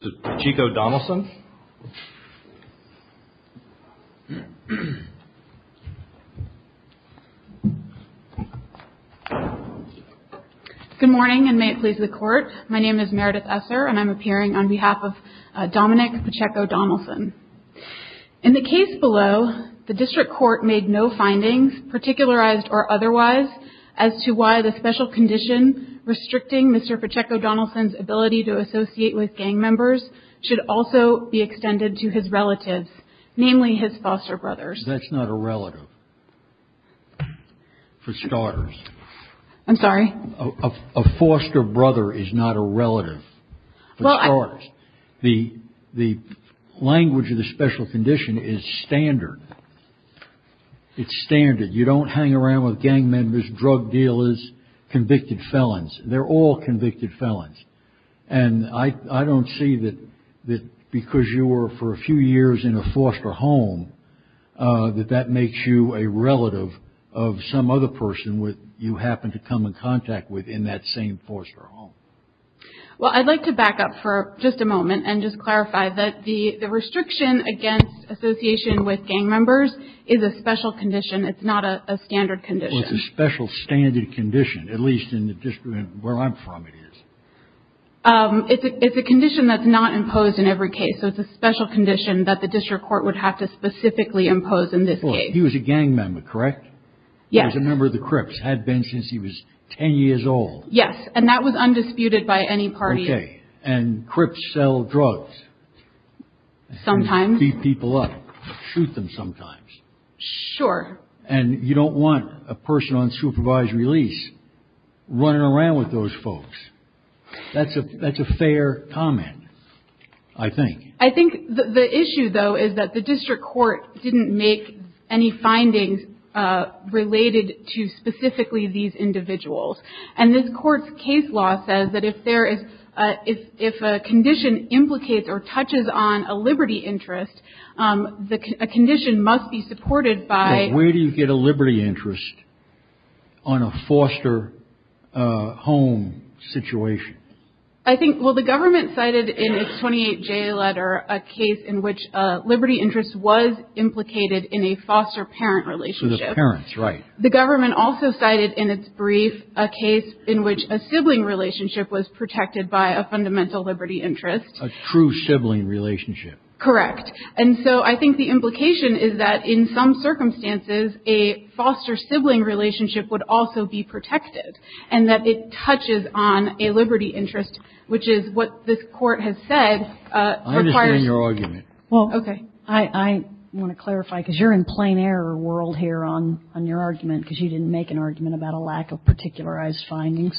Good morning and may it please the court. My name is Meredith Esser and I'm appearing on behalf of Dominic Pacheco-Donelson. In the case below, the district court made no findings, particularized or otherwise, as to why the special condition restricting Mr. Pacheco-Donelson's ability to associate with gang members was not met. That's not a relative. For starters. A foster brother is not a relative. The language of the special condition is standard. It's standard. You don't hang around with gang members, drug dealers, convicted felons. They're all convicted felons. And I don't see that because you were for a few years in a foster home, that that makes you a relative of some other person you happen to come in contact with in that same foster home. Well, I'd like to back up for just a moment and just clarify that the restriction against association with gang members is a special condition. It's not a standard condition. Well, it's a special standard condition, at least in the district where I'm from it is. It's a condition that's not imposed in every case, so it's a special condition that the district court would have to specifically impose in this case. He was a gang member, correct? Yes. He was a member of the Crips. Had been since he was 10 years old. Yes. And that was undisputed by any party. Okay. And Crips sell drugs. Sometimes. Beat people up. Shoot them sometimes. Sure. And you don't want a person on supervised release running around with those folks. That's a fair comment, I think. I think the issue, though, is that the district court didn't make any findings related to specifically these individuals. And this court's case law says that if a condition implicates or touches on a liberty interest, a condition must be supported by... But where do you get a liberty interest on a foster home situation? I think, well, the government cited in its 28J letter a case in which a liberty interest was implicated in a foster parent relationship. So the parents, right. The government also cited in its brief a case in which a sibling relationship was protected by a fundamental liberty interest. A true sibling relationship. Correct. And so I think the implication is that in some circumstances, a foster sibling relationship would also be protected. And that it touches on a liberty interest, which is what this court has said requires... I understand your argument. Well, okay. I want to clarify, because you're in plain error world here on your argument, because you didn't make an argument about a lack of particularized findings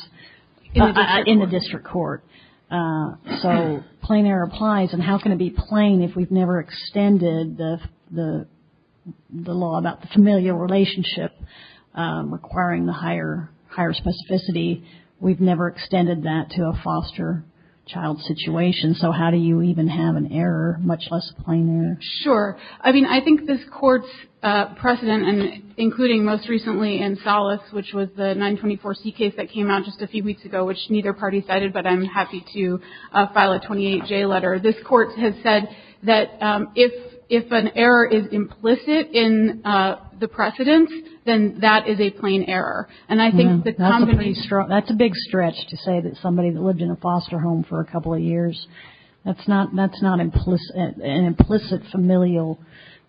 in the district court. So plain error applies. And how can it be plain if we've never extended the law about the familial relationship requiring the higher specificity? We've never extended that to a foster child situation. So how do you even have an error, much less plain error? Sure. I mean, I think this court's precedent, including most recently in Salas, which was the 924C case that came out just a few weeks ago, which neither party cited, but I'm happy to file a 28J letter. This court has said that if an error is implicit in the precedence, then that is a plain error. And I think that's a pretty strong... That's a big stretch to say that somebody that lived in a foster home for a couple of years, that's not an implicit familial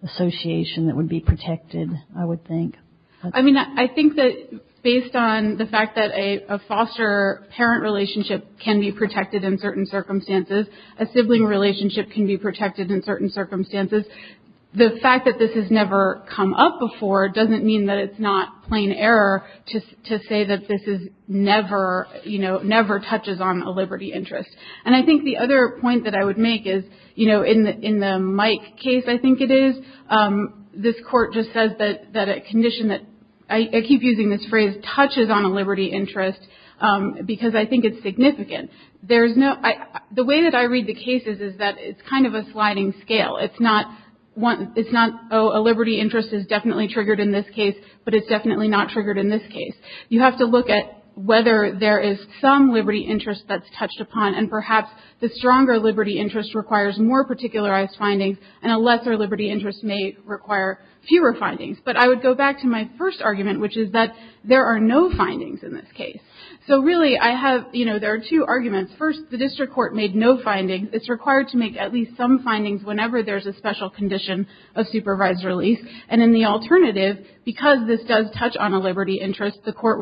association that would be protected, I would think. I mean, I think that based on the fact that a foster parent relationship can be protected in certain circumstances, a sibling relationship can be protected in certain circumstances, the fact that this has never come up before doesn't mean that it's not plain error to say that this is never, you know, never touches on a liberty interest. And I think the other point that I would make is, you know, in the Mike case, I think it is, this court just says that a condition that, I keep using this phrase, touches on a liberty interest because I think it's significant. There's no... The way that I read the cases is that it's kind of a sliding scale. It's not, oh, a liberty interest is definitely triggered in this case, but it's definitely not triggered in this case. You have to look at whether there is some liberty interest that's touched upon, and perhaps the stronger liberty interest requires more particularized findings, and a lesser liberty interest may require fewer findings. But I would go back to my first argument, which is that there are no findings in this case. So really, I have, you know, there are two arguments. First, the district court made no findings. It's required to make at least some findings whenever there's a special condition of supervised release. And in the alternative, because this does touch on a liberty interest, the court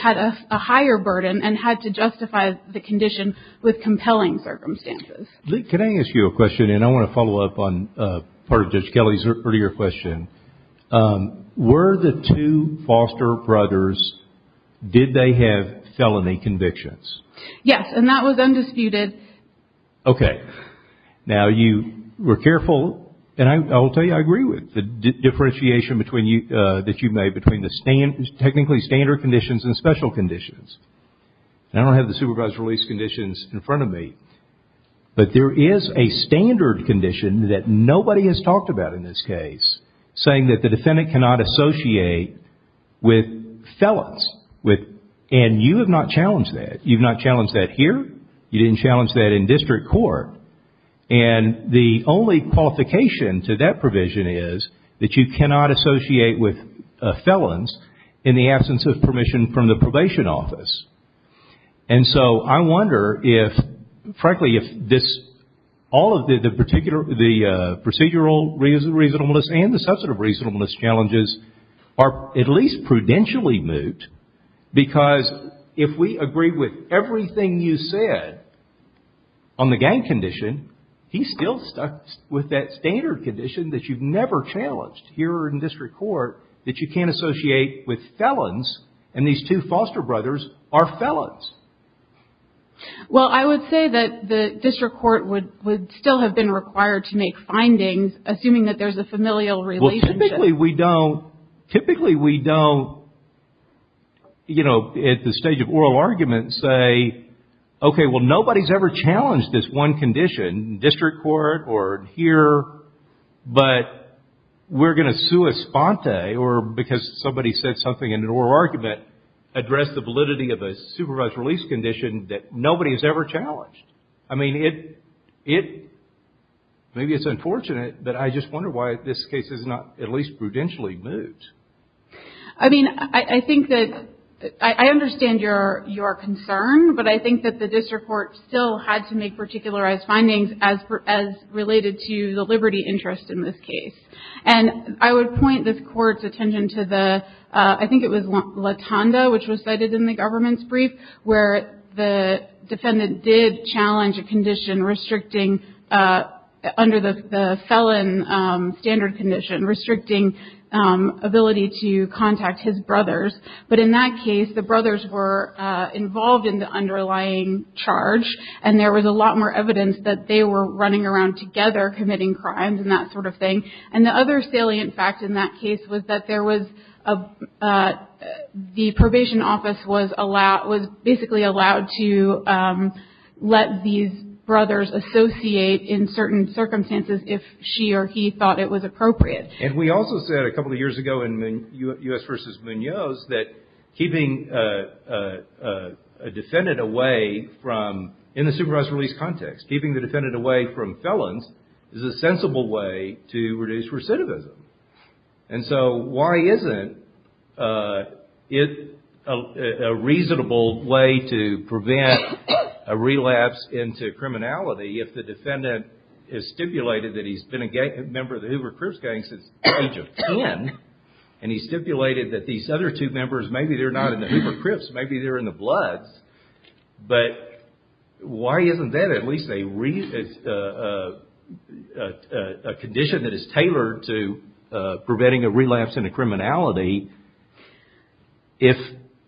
had a higher burden and had to justify the condition with compelling circumstances. Can I ask you a question? And I want to follow up on part of Judge Kelly's earlier question. Were the two Foster brothers, did they have felony convictions? Yes, and that was undisputed. Okay. Now, you were careful, and I will tell you I agree with the differentiation that you made between the technically standard conditions and special conditions. And I don't have the supervised release conditions in front of me, but there is a standard condition that nobody has talked about in this case, saying that the defendant cannot associate with felons. And you have not challenged that. You've not challenged that here. You didn't challenge that in district court. And the only qualification to that provision is that you cannot associate with felons in the absence of permission from the probation office. And so I wonder if, frankly, if all of the procedural reasonableness and the substantive reasonableness challenges are at least prudentially moot, because if we agree with everything you said on the gang condition, he's still stuck with that standard condition that you've never challenged here in district court, that you can't associate with felons, and these two foster brothers are felons. Well, I would say that the district court would still have been required to make findings, assuming that there's a familial relationship. Well, typically we don't, typically we don't, you know, at the stage of oral argument, say, okay, well, nobody's ever challenged this one condition in district court or here, but we're going to sua sponte, or because somebody said something in an oral argument, address the validity of a supervised release condition that nobody has ever challenged. I mean, it, maybe it's unfortunate, but I just wonder why this case is not at least prudentially moot. I mean, I think that, I understand your concern, but I think that the district court still had to make particularized findings as related to the liberty interest in this case. And I would point this court's attention to the, I think it was Latonda, which was cited in the government's brief, where the defendant did challenge a condition restricting, under the felon standard condition, restricting ability to contact his brothers. But in that case, the brothers were involved in the underlying charge, and there was a lot more evidence that they were running around together committing crimes and that sort of thing. And the other salient fact in that case was that there was, the probation office was basically allowed to let these brothers associate in certain circumstances if she or he thought it was appropriate. And we also said a couple of years ago in U.S. v. Munoz that keeping a defendant away from, in the supervised release context, keeping the defendant away from felons is a sensible way to reduce recidivism. And so why isn't it a reasonable way to prevent a relapse into criminality if the defendant has stipulated that he's been a member of the Hoover Crips gang since the age of 10, and he stipulated that these other two members, maybe they're not in the Hoover Crips, maybe they're in the Bloods, but why isn't that at least a condition that is tailored to preventing a relapse into criminality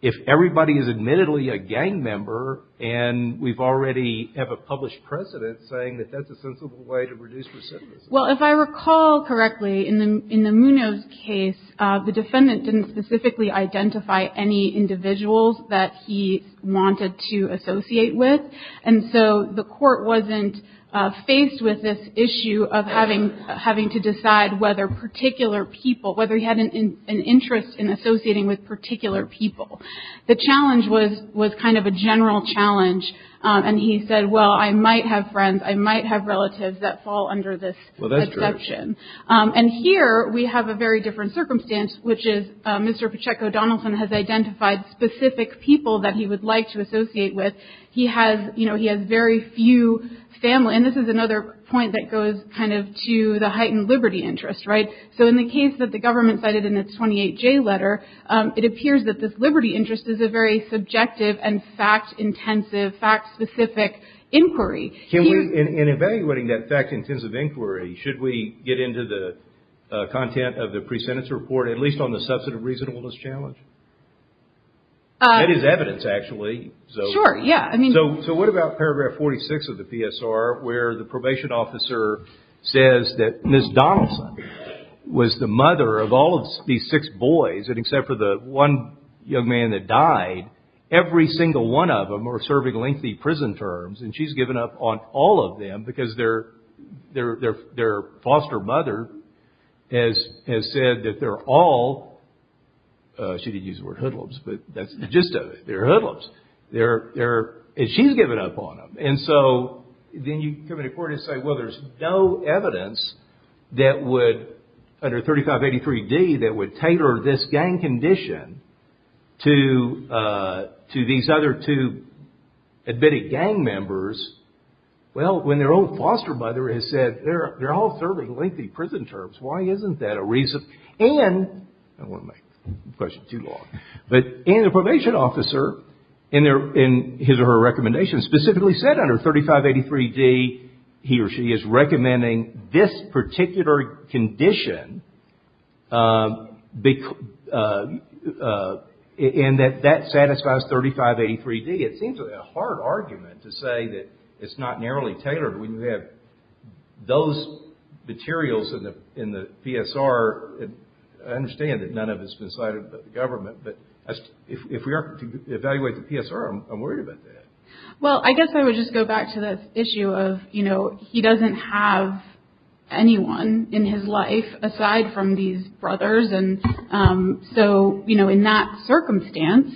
if everybody is admittedly a gang member and we already have a published precedent saying that that's a sensible way to reduce recidivism? Well, if I recall correctly, in the Munoz case, the defendant didn't specifically identify any individuals that he wanted to associate with, and so the court wasn't faced with this issue of having to decide whether particular people, whether he had an interest in associating with particular people. The challenge was kind of a general challenge, and he said, well, I might have friends, I might have relatives that fall under this exception. And here we have a very different circumstance, which is Mr. Pacheco Donaldson has identified specific people that he would like to associate with. He has, you know, he has very few family, and this is another point that goes kind of to the heightened liberty interest, right? So in the case that the government cited in its 28J letter, it appears that this liberty interest is a very subjective and fact-intensive, fact-specific inquiry. Can we, in evaluating that fact-intensive inquiry, should we get into the content of the pre-sentence report, at least on the substantive reasonableness challenge? That is evidence, actually. Sure, yeah. So what about paragraph 46 of the PSR, where the probation officer says that Ms. Donaldson was the mother of all of these six boys, and except for the one young man that died, every single one of them are serving lengthy prison terms, and she's given up on all of them because their foster mother has said that they're all, she didn't use the word hoodlums, but that's the gist of it. They're hoodlums. And she's given up on them. And so then you come into court and say, well, there's no evidence that would, under 3583D, that would tailor this gang condition to these other two admitted gang members. Well, when their own foster mother has said they're all serving lengthy prison terms, why isn't that a reason? And, I don't want to make the question too long, but in the probation officer, in his or her recommendation, specifically said under 3583D, he or she is recommending this particular condition, and that that satisfies 3583D. It seems like a hard argument to say that it's not narrowly tailored. Those materials in the PSR, I understand that none of it's been cited by the government, but if we are to evaluate the PSR, I'm worried about that. Well, I guess I would just go back to the issue of, you know, he doesn't have anyone in his life aside from these brothers. And so, you know, in that circumstance,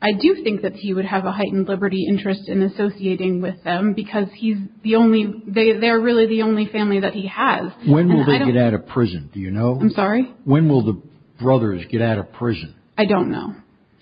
I do think that he would have a heightened liberty interest in associating with them, because he's the only, they're really the only family that he has. When will they get out of prison, do you know? I'm sorry? When will the brothers get out of prison? I don't know.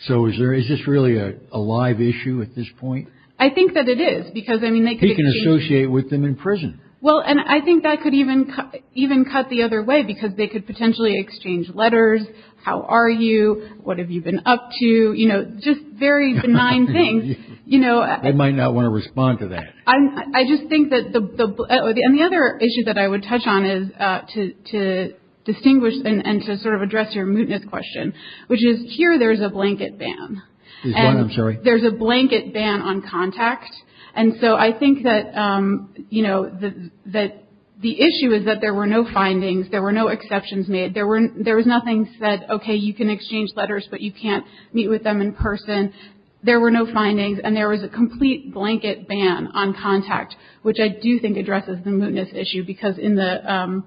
So is this really a live issue at this point? I think that it is, because, I mean, they could exchange. He can associate with them in prison. Well, and I think that could even cut the other way, because they could potentially exchange letters, how are you, what have you been up to, you know, just very benign things, you know. They might not want to respond to that. I just think that the, and the other issue that I would touch on is to distinguish and to sort of address your mootness question, which is here there's a blanket ban. There's a blanket ban on contact. And so I think that, you know, that the issue is that there were no findings, there were no exceptions made. There was nothing that said, okay, you can exchange letters, but you can't meet with them in person. There were no findings, and there was a complete blanket ban on contact, which I do think addresses the mootness issue, because in the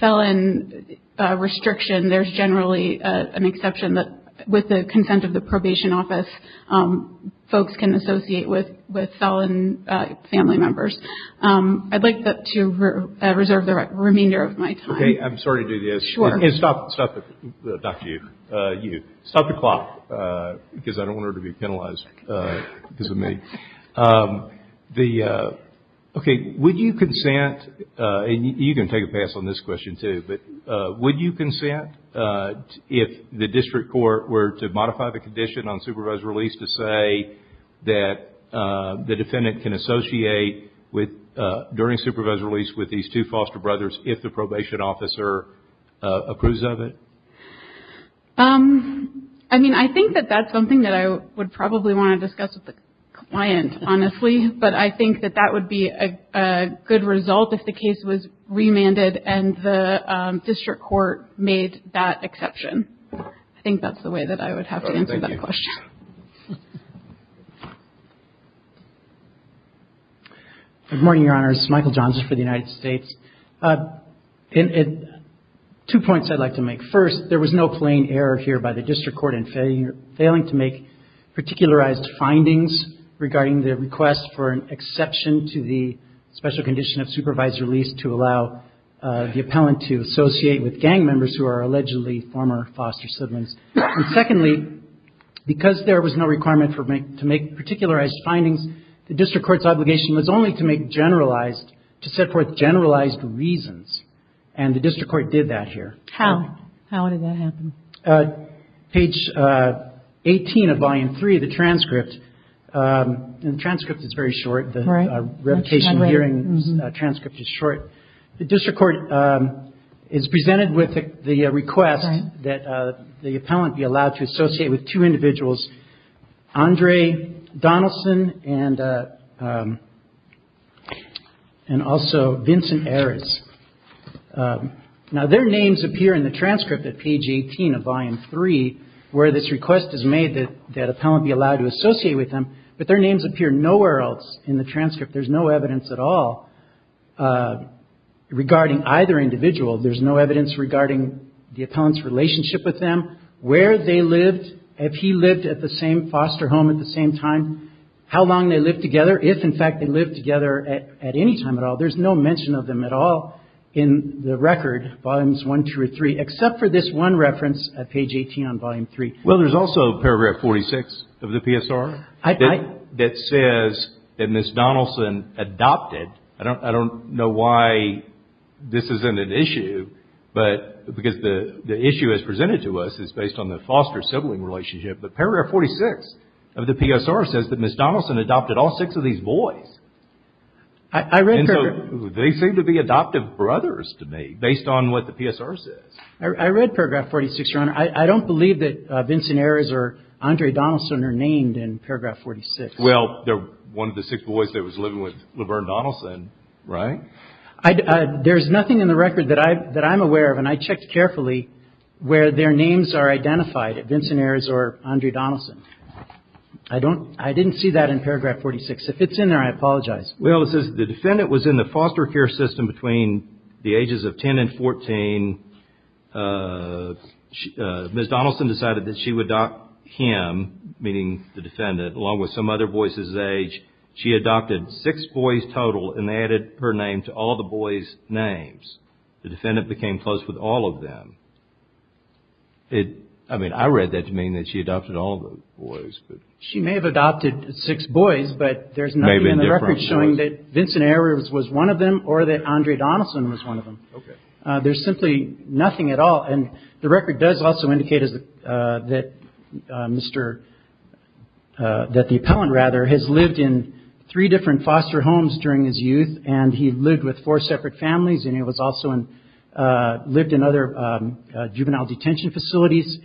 felon restriction, there's generally an exception that with the consent of the probation office, folks can associate with felon family members. I'd like to reserve the remainder of my time. Okay. I'm sorry to do this. Sure. And stop the clock, because I don't want her to be penalized because of me. Okay. Would you consent, and you can take a pass on this question too, but would you consent if the district court were to modify the condition on supervisor release to say that the defendant can associate during supervisor release with these two foster brothers if the probation officer approves of it? I mean, I think that that's something that I would probably want to discuss with the client, honestly, but I think that that would be a good result if the case was remanded and the district court made that exception. I think that's the way that I would have to answer that question. Good morning, Your Honors. Michael Johnson for the United States. Two points I'd like to make. First, there was no plain error here by the district court in failing to make particularized findings regarding the request for an exception to the special condition of supervisor release to allow the appellant to associate with gang members who are allegedly former foster siblings. And secondly, because there was no requirement to make particularized findings, the district court's obligation was only to make generalized, to set forth generalized reasons, and the district court did that here. How? How did that happen? Page 18 of Volume 3 of the transcript, and the transcript is very short. The revocation hearing transcript is short. The district court is presented with the request that the appellant be allowed to associate with two individuals, Andre Donaldson and also Vincent Ares. Now, their names appear in the transcript at page 18 of Volume 3, where this request is made that the appellant be allowed to associate with them, but their names appear nowhere else in the transcript. There's no evidence at all regarding either individual. There's no evidence regarding the appellant's relationship with them, where they lived, if he lived at the same foster home at the same time, how long they lived together, if, in fact, they lived together at any time at all. There's no mention of them at all in the record, Volumes 1 through 3, except for this one reference at page 18 on Volume 3. Well, there's also paragraph 46 of the PSR that says that Ms. Donaldson adopted. I don't know why this isn't an issue, but because the issue as presented to us is based on the foster sibling relationship. But paragraph 46 of the PSR says that Ms. Donaldson adopted all six of these boys. And so they seem to be adoptive brothers to me, based on what the PSR says. I read paragraph 46, Your Honor. I don't believe that Vincent Ares or Andre Donaldson are named in paragraph 46. Well, they're one of the six boys that was living with Laverne Donaldson, right? There's nothing in the record that I'm aware of, and I checked carefully, where their names are identified, Vincent Ares or Andre Donaldson. I didn't see that in paragraph 46. If it's in there, I apologize. Well, it says the defendant was in the foster care system between the ages of 10 and 14. Ms. Donaldson decided that she would adopt him, meaning the defendant, along with some other boys his age. She adopted six boys total, and they added her name to all the boys' names. The defendant became close with all of them. I mean, I read that to mean that she adopted all the boys. She may have adopted six boys, but there's nothing in the record showing that Vincent Ares was one of them or that Andre Donaldson was one of them. There's simply nothing at all. And the record does also indicate that the appellant has lived in three different foster homes during his youth, and he lived with four separate families, and he also lived in other juvenile detention facilities.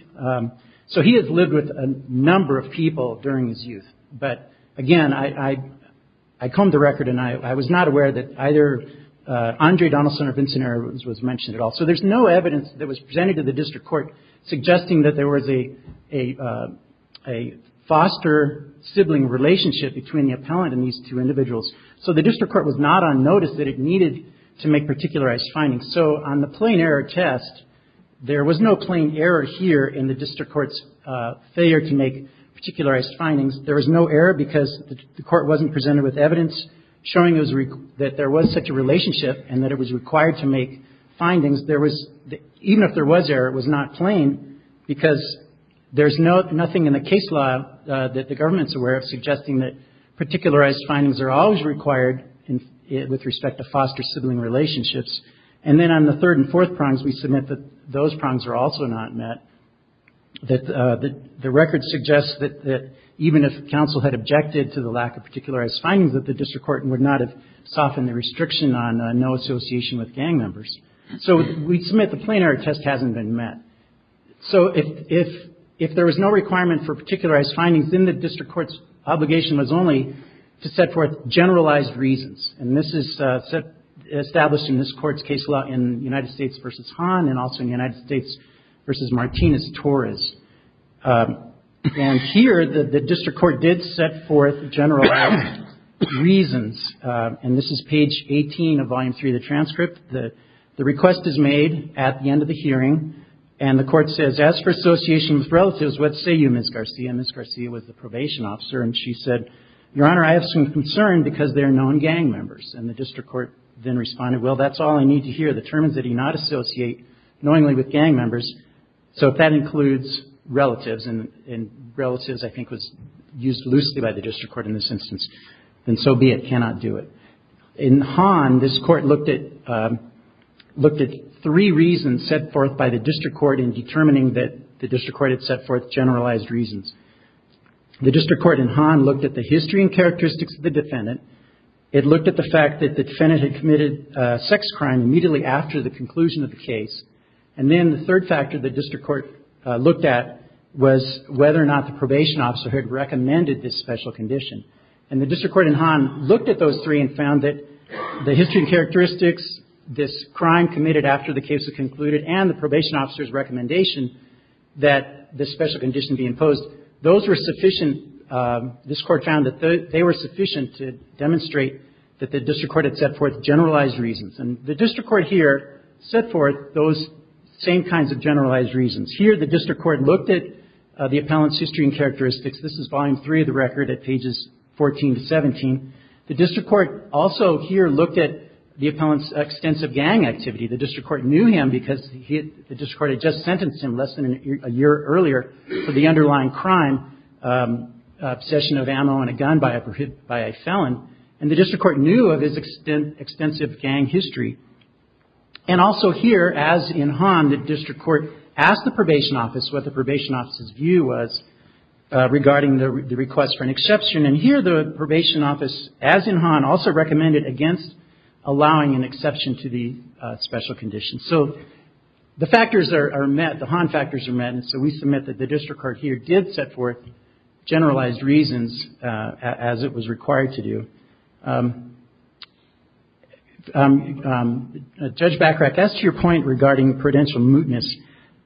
So he has lived with a number of people during his youth. But again, I combed the record, and I was not aware that either Andre Donaldson or Vincent Ares was mentioned at all. So there's no evidence that was presented to the district court suggesting that there was a foster sibling relationship between the appellant and these two individuals. So the district court was not on notice that it needed to make particularized findings. So on the plain error test, there was no plain error here in the district court's failure to make particularized findings. There was no error because the court wasn't presented with evidence showing that there was such a relationship and that it was required to make findings. Even if there was error, it was not plain because there's nothing in the case law that the government's aware of suggesting that particularized findings are always required with respect to foster sibling relationships. And then on the third and fourth prongs, we submit that those prongs are also not met, that the record suggests that even if counsel had objected to the lack of particularized findings, that the district court would not have softened the restriction on no association with gang members. So we submit the plain error test hasn't been met. So if there was no requirement for particularized findings, then the district court's obligation was only to set forth generalized reasons. And this is established in this court's case law in United States v. Hahn and also in United States v. Martinez-Torres. And here, the district court did set forth generalized reasons. And this is page 18 of volume 3 of the transcript. The request is made at the end of the hearing, and the court says, as for association with relatives, what say you, Ms. Garcia? Ms. Garcia was the probation officer, and she said, Your Honor, I have some concern because there are no gang members. And the district court then responded, well, that's all I need to hear. The term is that he not associate knowingly with gang members. So if that includes relatives, and relatives, I think, was used loosely by the district court in this instance, then so be it, cannot do it. In Hahn, this court looked at three reasons set forth by the district court in determining that the district court had set forth generalized reasons. The district court in Hahn looked at the history and characteristics of the defendant. It looked at the fact that the defendant had committed sex crime immediately after the conclusion of the case. And then the third factor the district court looked at was whether or not the probation officer had recommended this special condition. And the district court in Hahn looked at those three and found that the history and characteristics, this crime committed after the case was concluded, and the probation officer's recommendation that this special condition be imposed, those were sufficient. This court found that they were sufficient to demonstrate that the district court had set forth generalized reasons. And the district court here set forth those same kinds of generalized reasons. Here the district court looked at the appellant's history and characteristics. This is volume three of the record at pages 14 to 17. The district court also here looked at the appellant's extensive gang activity. The district court knew him because the district court had just sentenced him less than a year earlier for the underlying crime, obsession of ammo and a gun by a felon. And the district court knew of his extensive gang history. And also here, as in Hahn, the district court asked the probation office what the probation officer's view was regarding the request for an exception. And here the probation office, as in Hahn, also recommended against allowing an exception to the special condition. So the factors are met. The Hahn factors are met. And so we submit that the district court here did set forth generalized reasons as it was required to do. Judge Bachrach, as to your point regarding prudential mootness,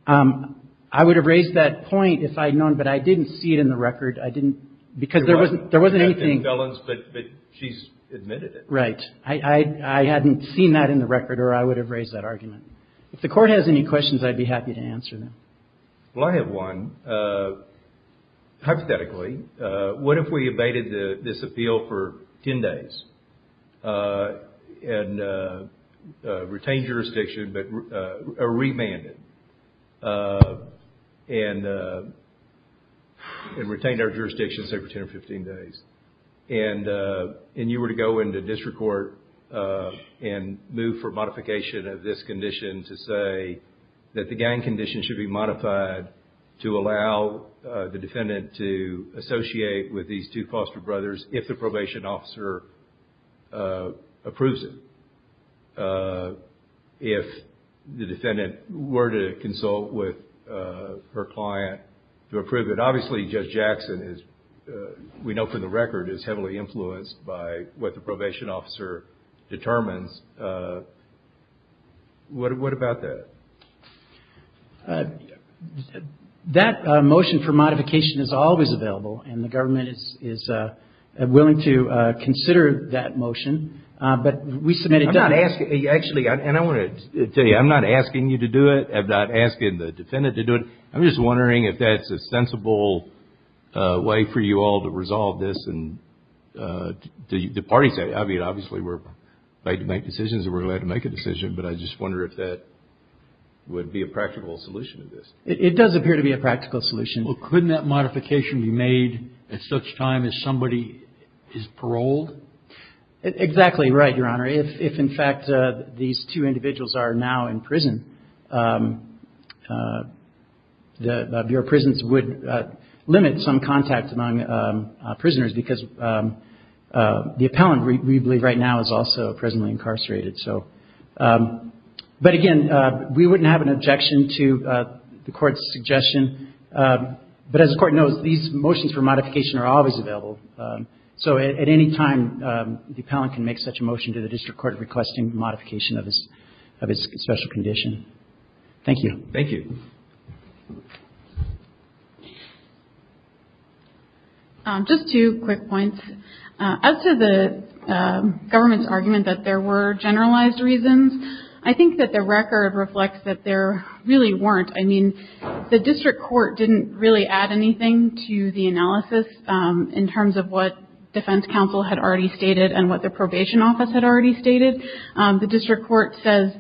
I would have raised that point if I had known, but I didn't see it in the record. I didn't, because there wasn't, there wasn't anything. It had been felons, but she's admitted it. Right. I hadn't seen that in the record or I would have raised that argument. If the court has any questions, I'd be happy to answer them. Well, I have one. Hypothetically, what if we abated this appeal for 10 days and retained jurisdiction, but remanded and retained our jurisdiction say for 10 or 15 days. And you were to go into district court and move for modification of this condition to say that the gang condition should be modified to allow the defendant to associate with these two foster brothers if the probation officer approves it. If the defendant were to consult with her client to approve it. Obviously, Judge Jackson is, we know for the record, is heavily influenced by what the probation officer determines. What about that? That motion for modification is always available, and the government is willing to consider that motion. But we submit it done. Actually, and I want to tell you, I'm not asking you to do it. I'm not asking the defendant to do it. I'm just wondering if that's a sensible way for you all to resolve this. I mean, obviously, we're going to make decisions and we're going to make a decision. But I just wonder if that would be a practical solution to this. It does appear to be a practical solution. Well, couldn't that modification be made at such time as somebody is paroled? Exactly right, Your Honor. If, in fact, these two individuals are now in prison, the Bureau of Prisons would limit some contact among prisoners, because the appellant, we believe right now, is also presently incarcerated. But again, we wouldn't have an objection to the Court's suggestion. But as the Court knows, these motions for modification are always available. So at any time, the appellant can make such a motion to the district court requesting modification of his special condition. Thank you. Thank you. Just two quick points. As to the government's argument that there were generalized reasons, I think that the record reflects that there really weren't. I mean, the district court didn't really add anything to the analysis in terms of what defense counsel had already stated and what the probation office had already stated. The district court says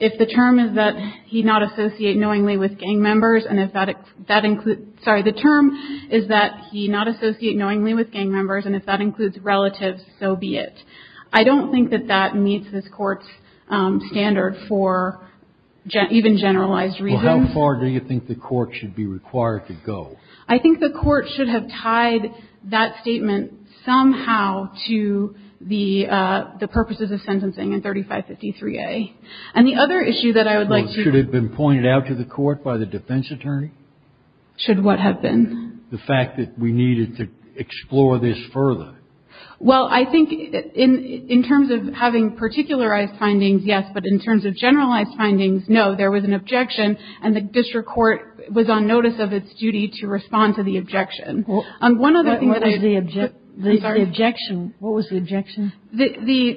if the term is that he not associate knowingly with gang members, and if that includes, sorry, the term is that he not associate knowingly with gang members, and if that includes relatives, so be it. I don't think that that meets this Court's standard for even generalized reasons. Well, how far do you think the Court should be required to go? I think the Court should have tied that statement somehow to the purposes of sentencing in 3553A. And the other issue that I would like to... Well, should it have been pointed out to the Court by the defense attorney? Should what have been? The fact that we needed to explore this further. Well, I think in terms of having particularized findings, yes. But in terms of generalized findings, no. There was an objection, and the district court was on notice of its duty to respond to the objection. What was the objection?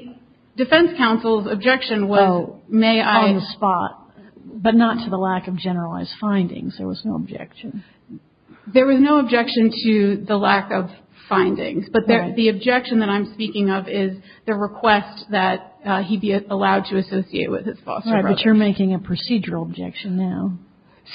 The defense counsel's objection was, may I... On the spot, but not to the lack of generalized findings. There was no objection. There was no objection to the lack of findings. But the objection that I'm speaking of is the request that he be allowed to associate with his foster brothers. Right. But you're making a procedural objection now.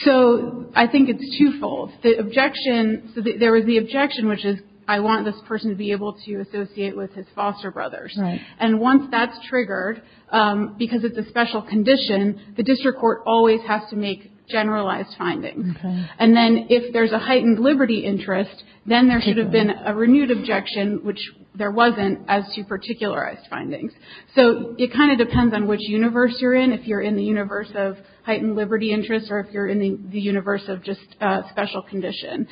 So I think it's twofold. The objection, there was the objection, which is, I want this person to be able to associate with his foster brothers. Right. And once that's triggered, because it's a special condition, the district court always has to make generalized findings. Okay. And then if there's a heightened liberty interest, then there should have been a renewed objection, which there wasn't, as to particularized findings. So it kind of depends on which universe you're in, if you're in the universe of heightened liberty interest or if you're in the universe of just special condition.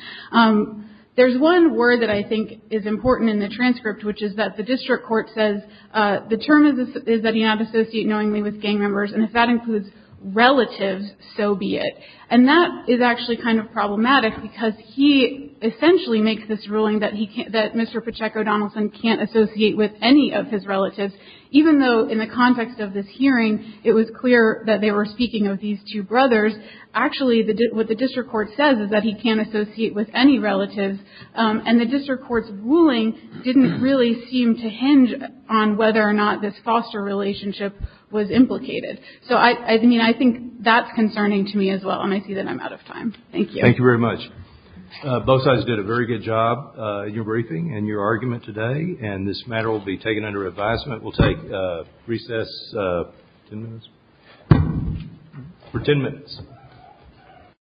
There's one word that I think is important in the transcript, which is that the district court says, the term is that he not associate knowingly with gang members, and if that includes relatives, so be it. And that is actually kind of problematic, because he essentially makes this ruling that he can't, that Mr. Pacheco Donaldson can't associate with any of his relatives, even though in the context of this hearing, it was clear that they were speaking of these two brothers. Actually, what the district court says is that he can't associate with any relatives, and the district court's ruling didn't really seem to hinge on whether or not this foster relationship was implicated. So, I mean, I think that's concerning to me as well, and I see that I'm out of time. Thank you. Thank you very much. Both sides did a very good job in your briefing and your argument today, and this matter will be taken under advisement. We'll take recess for ten minutes.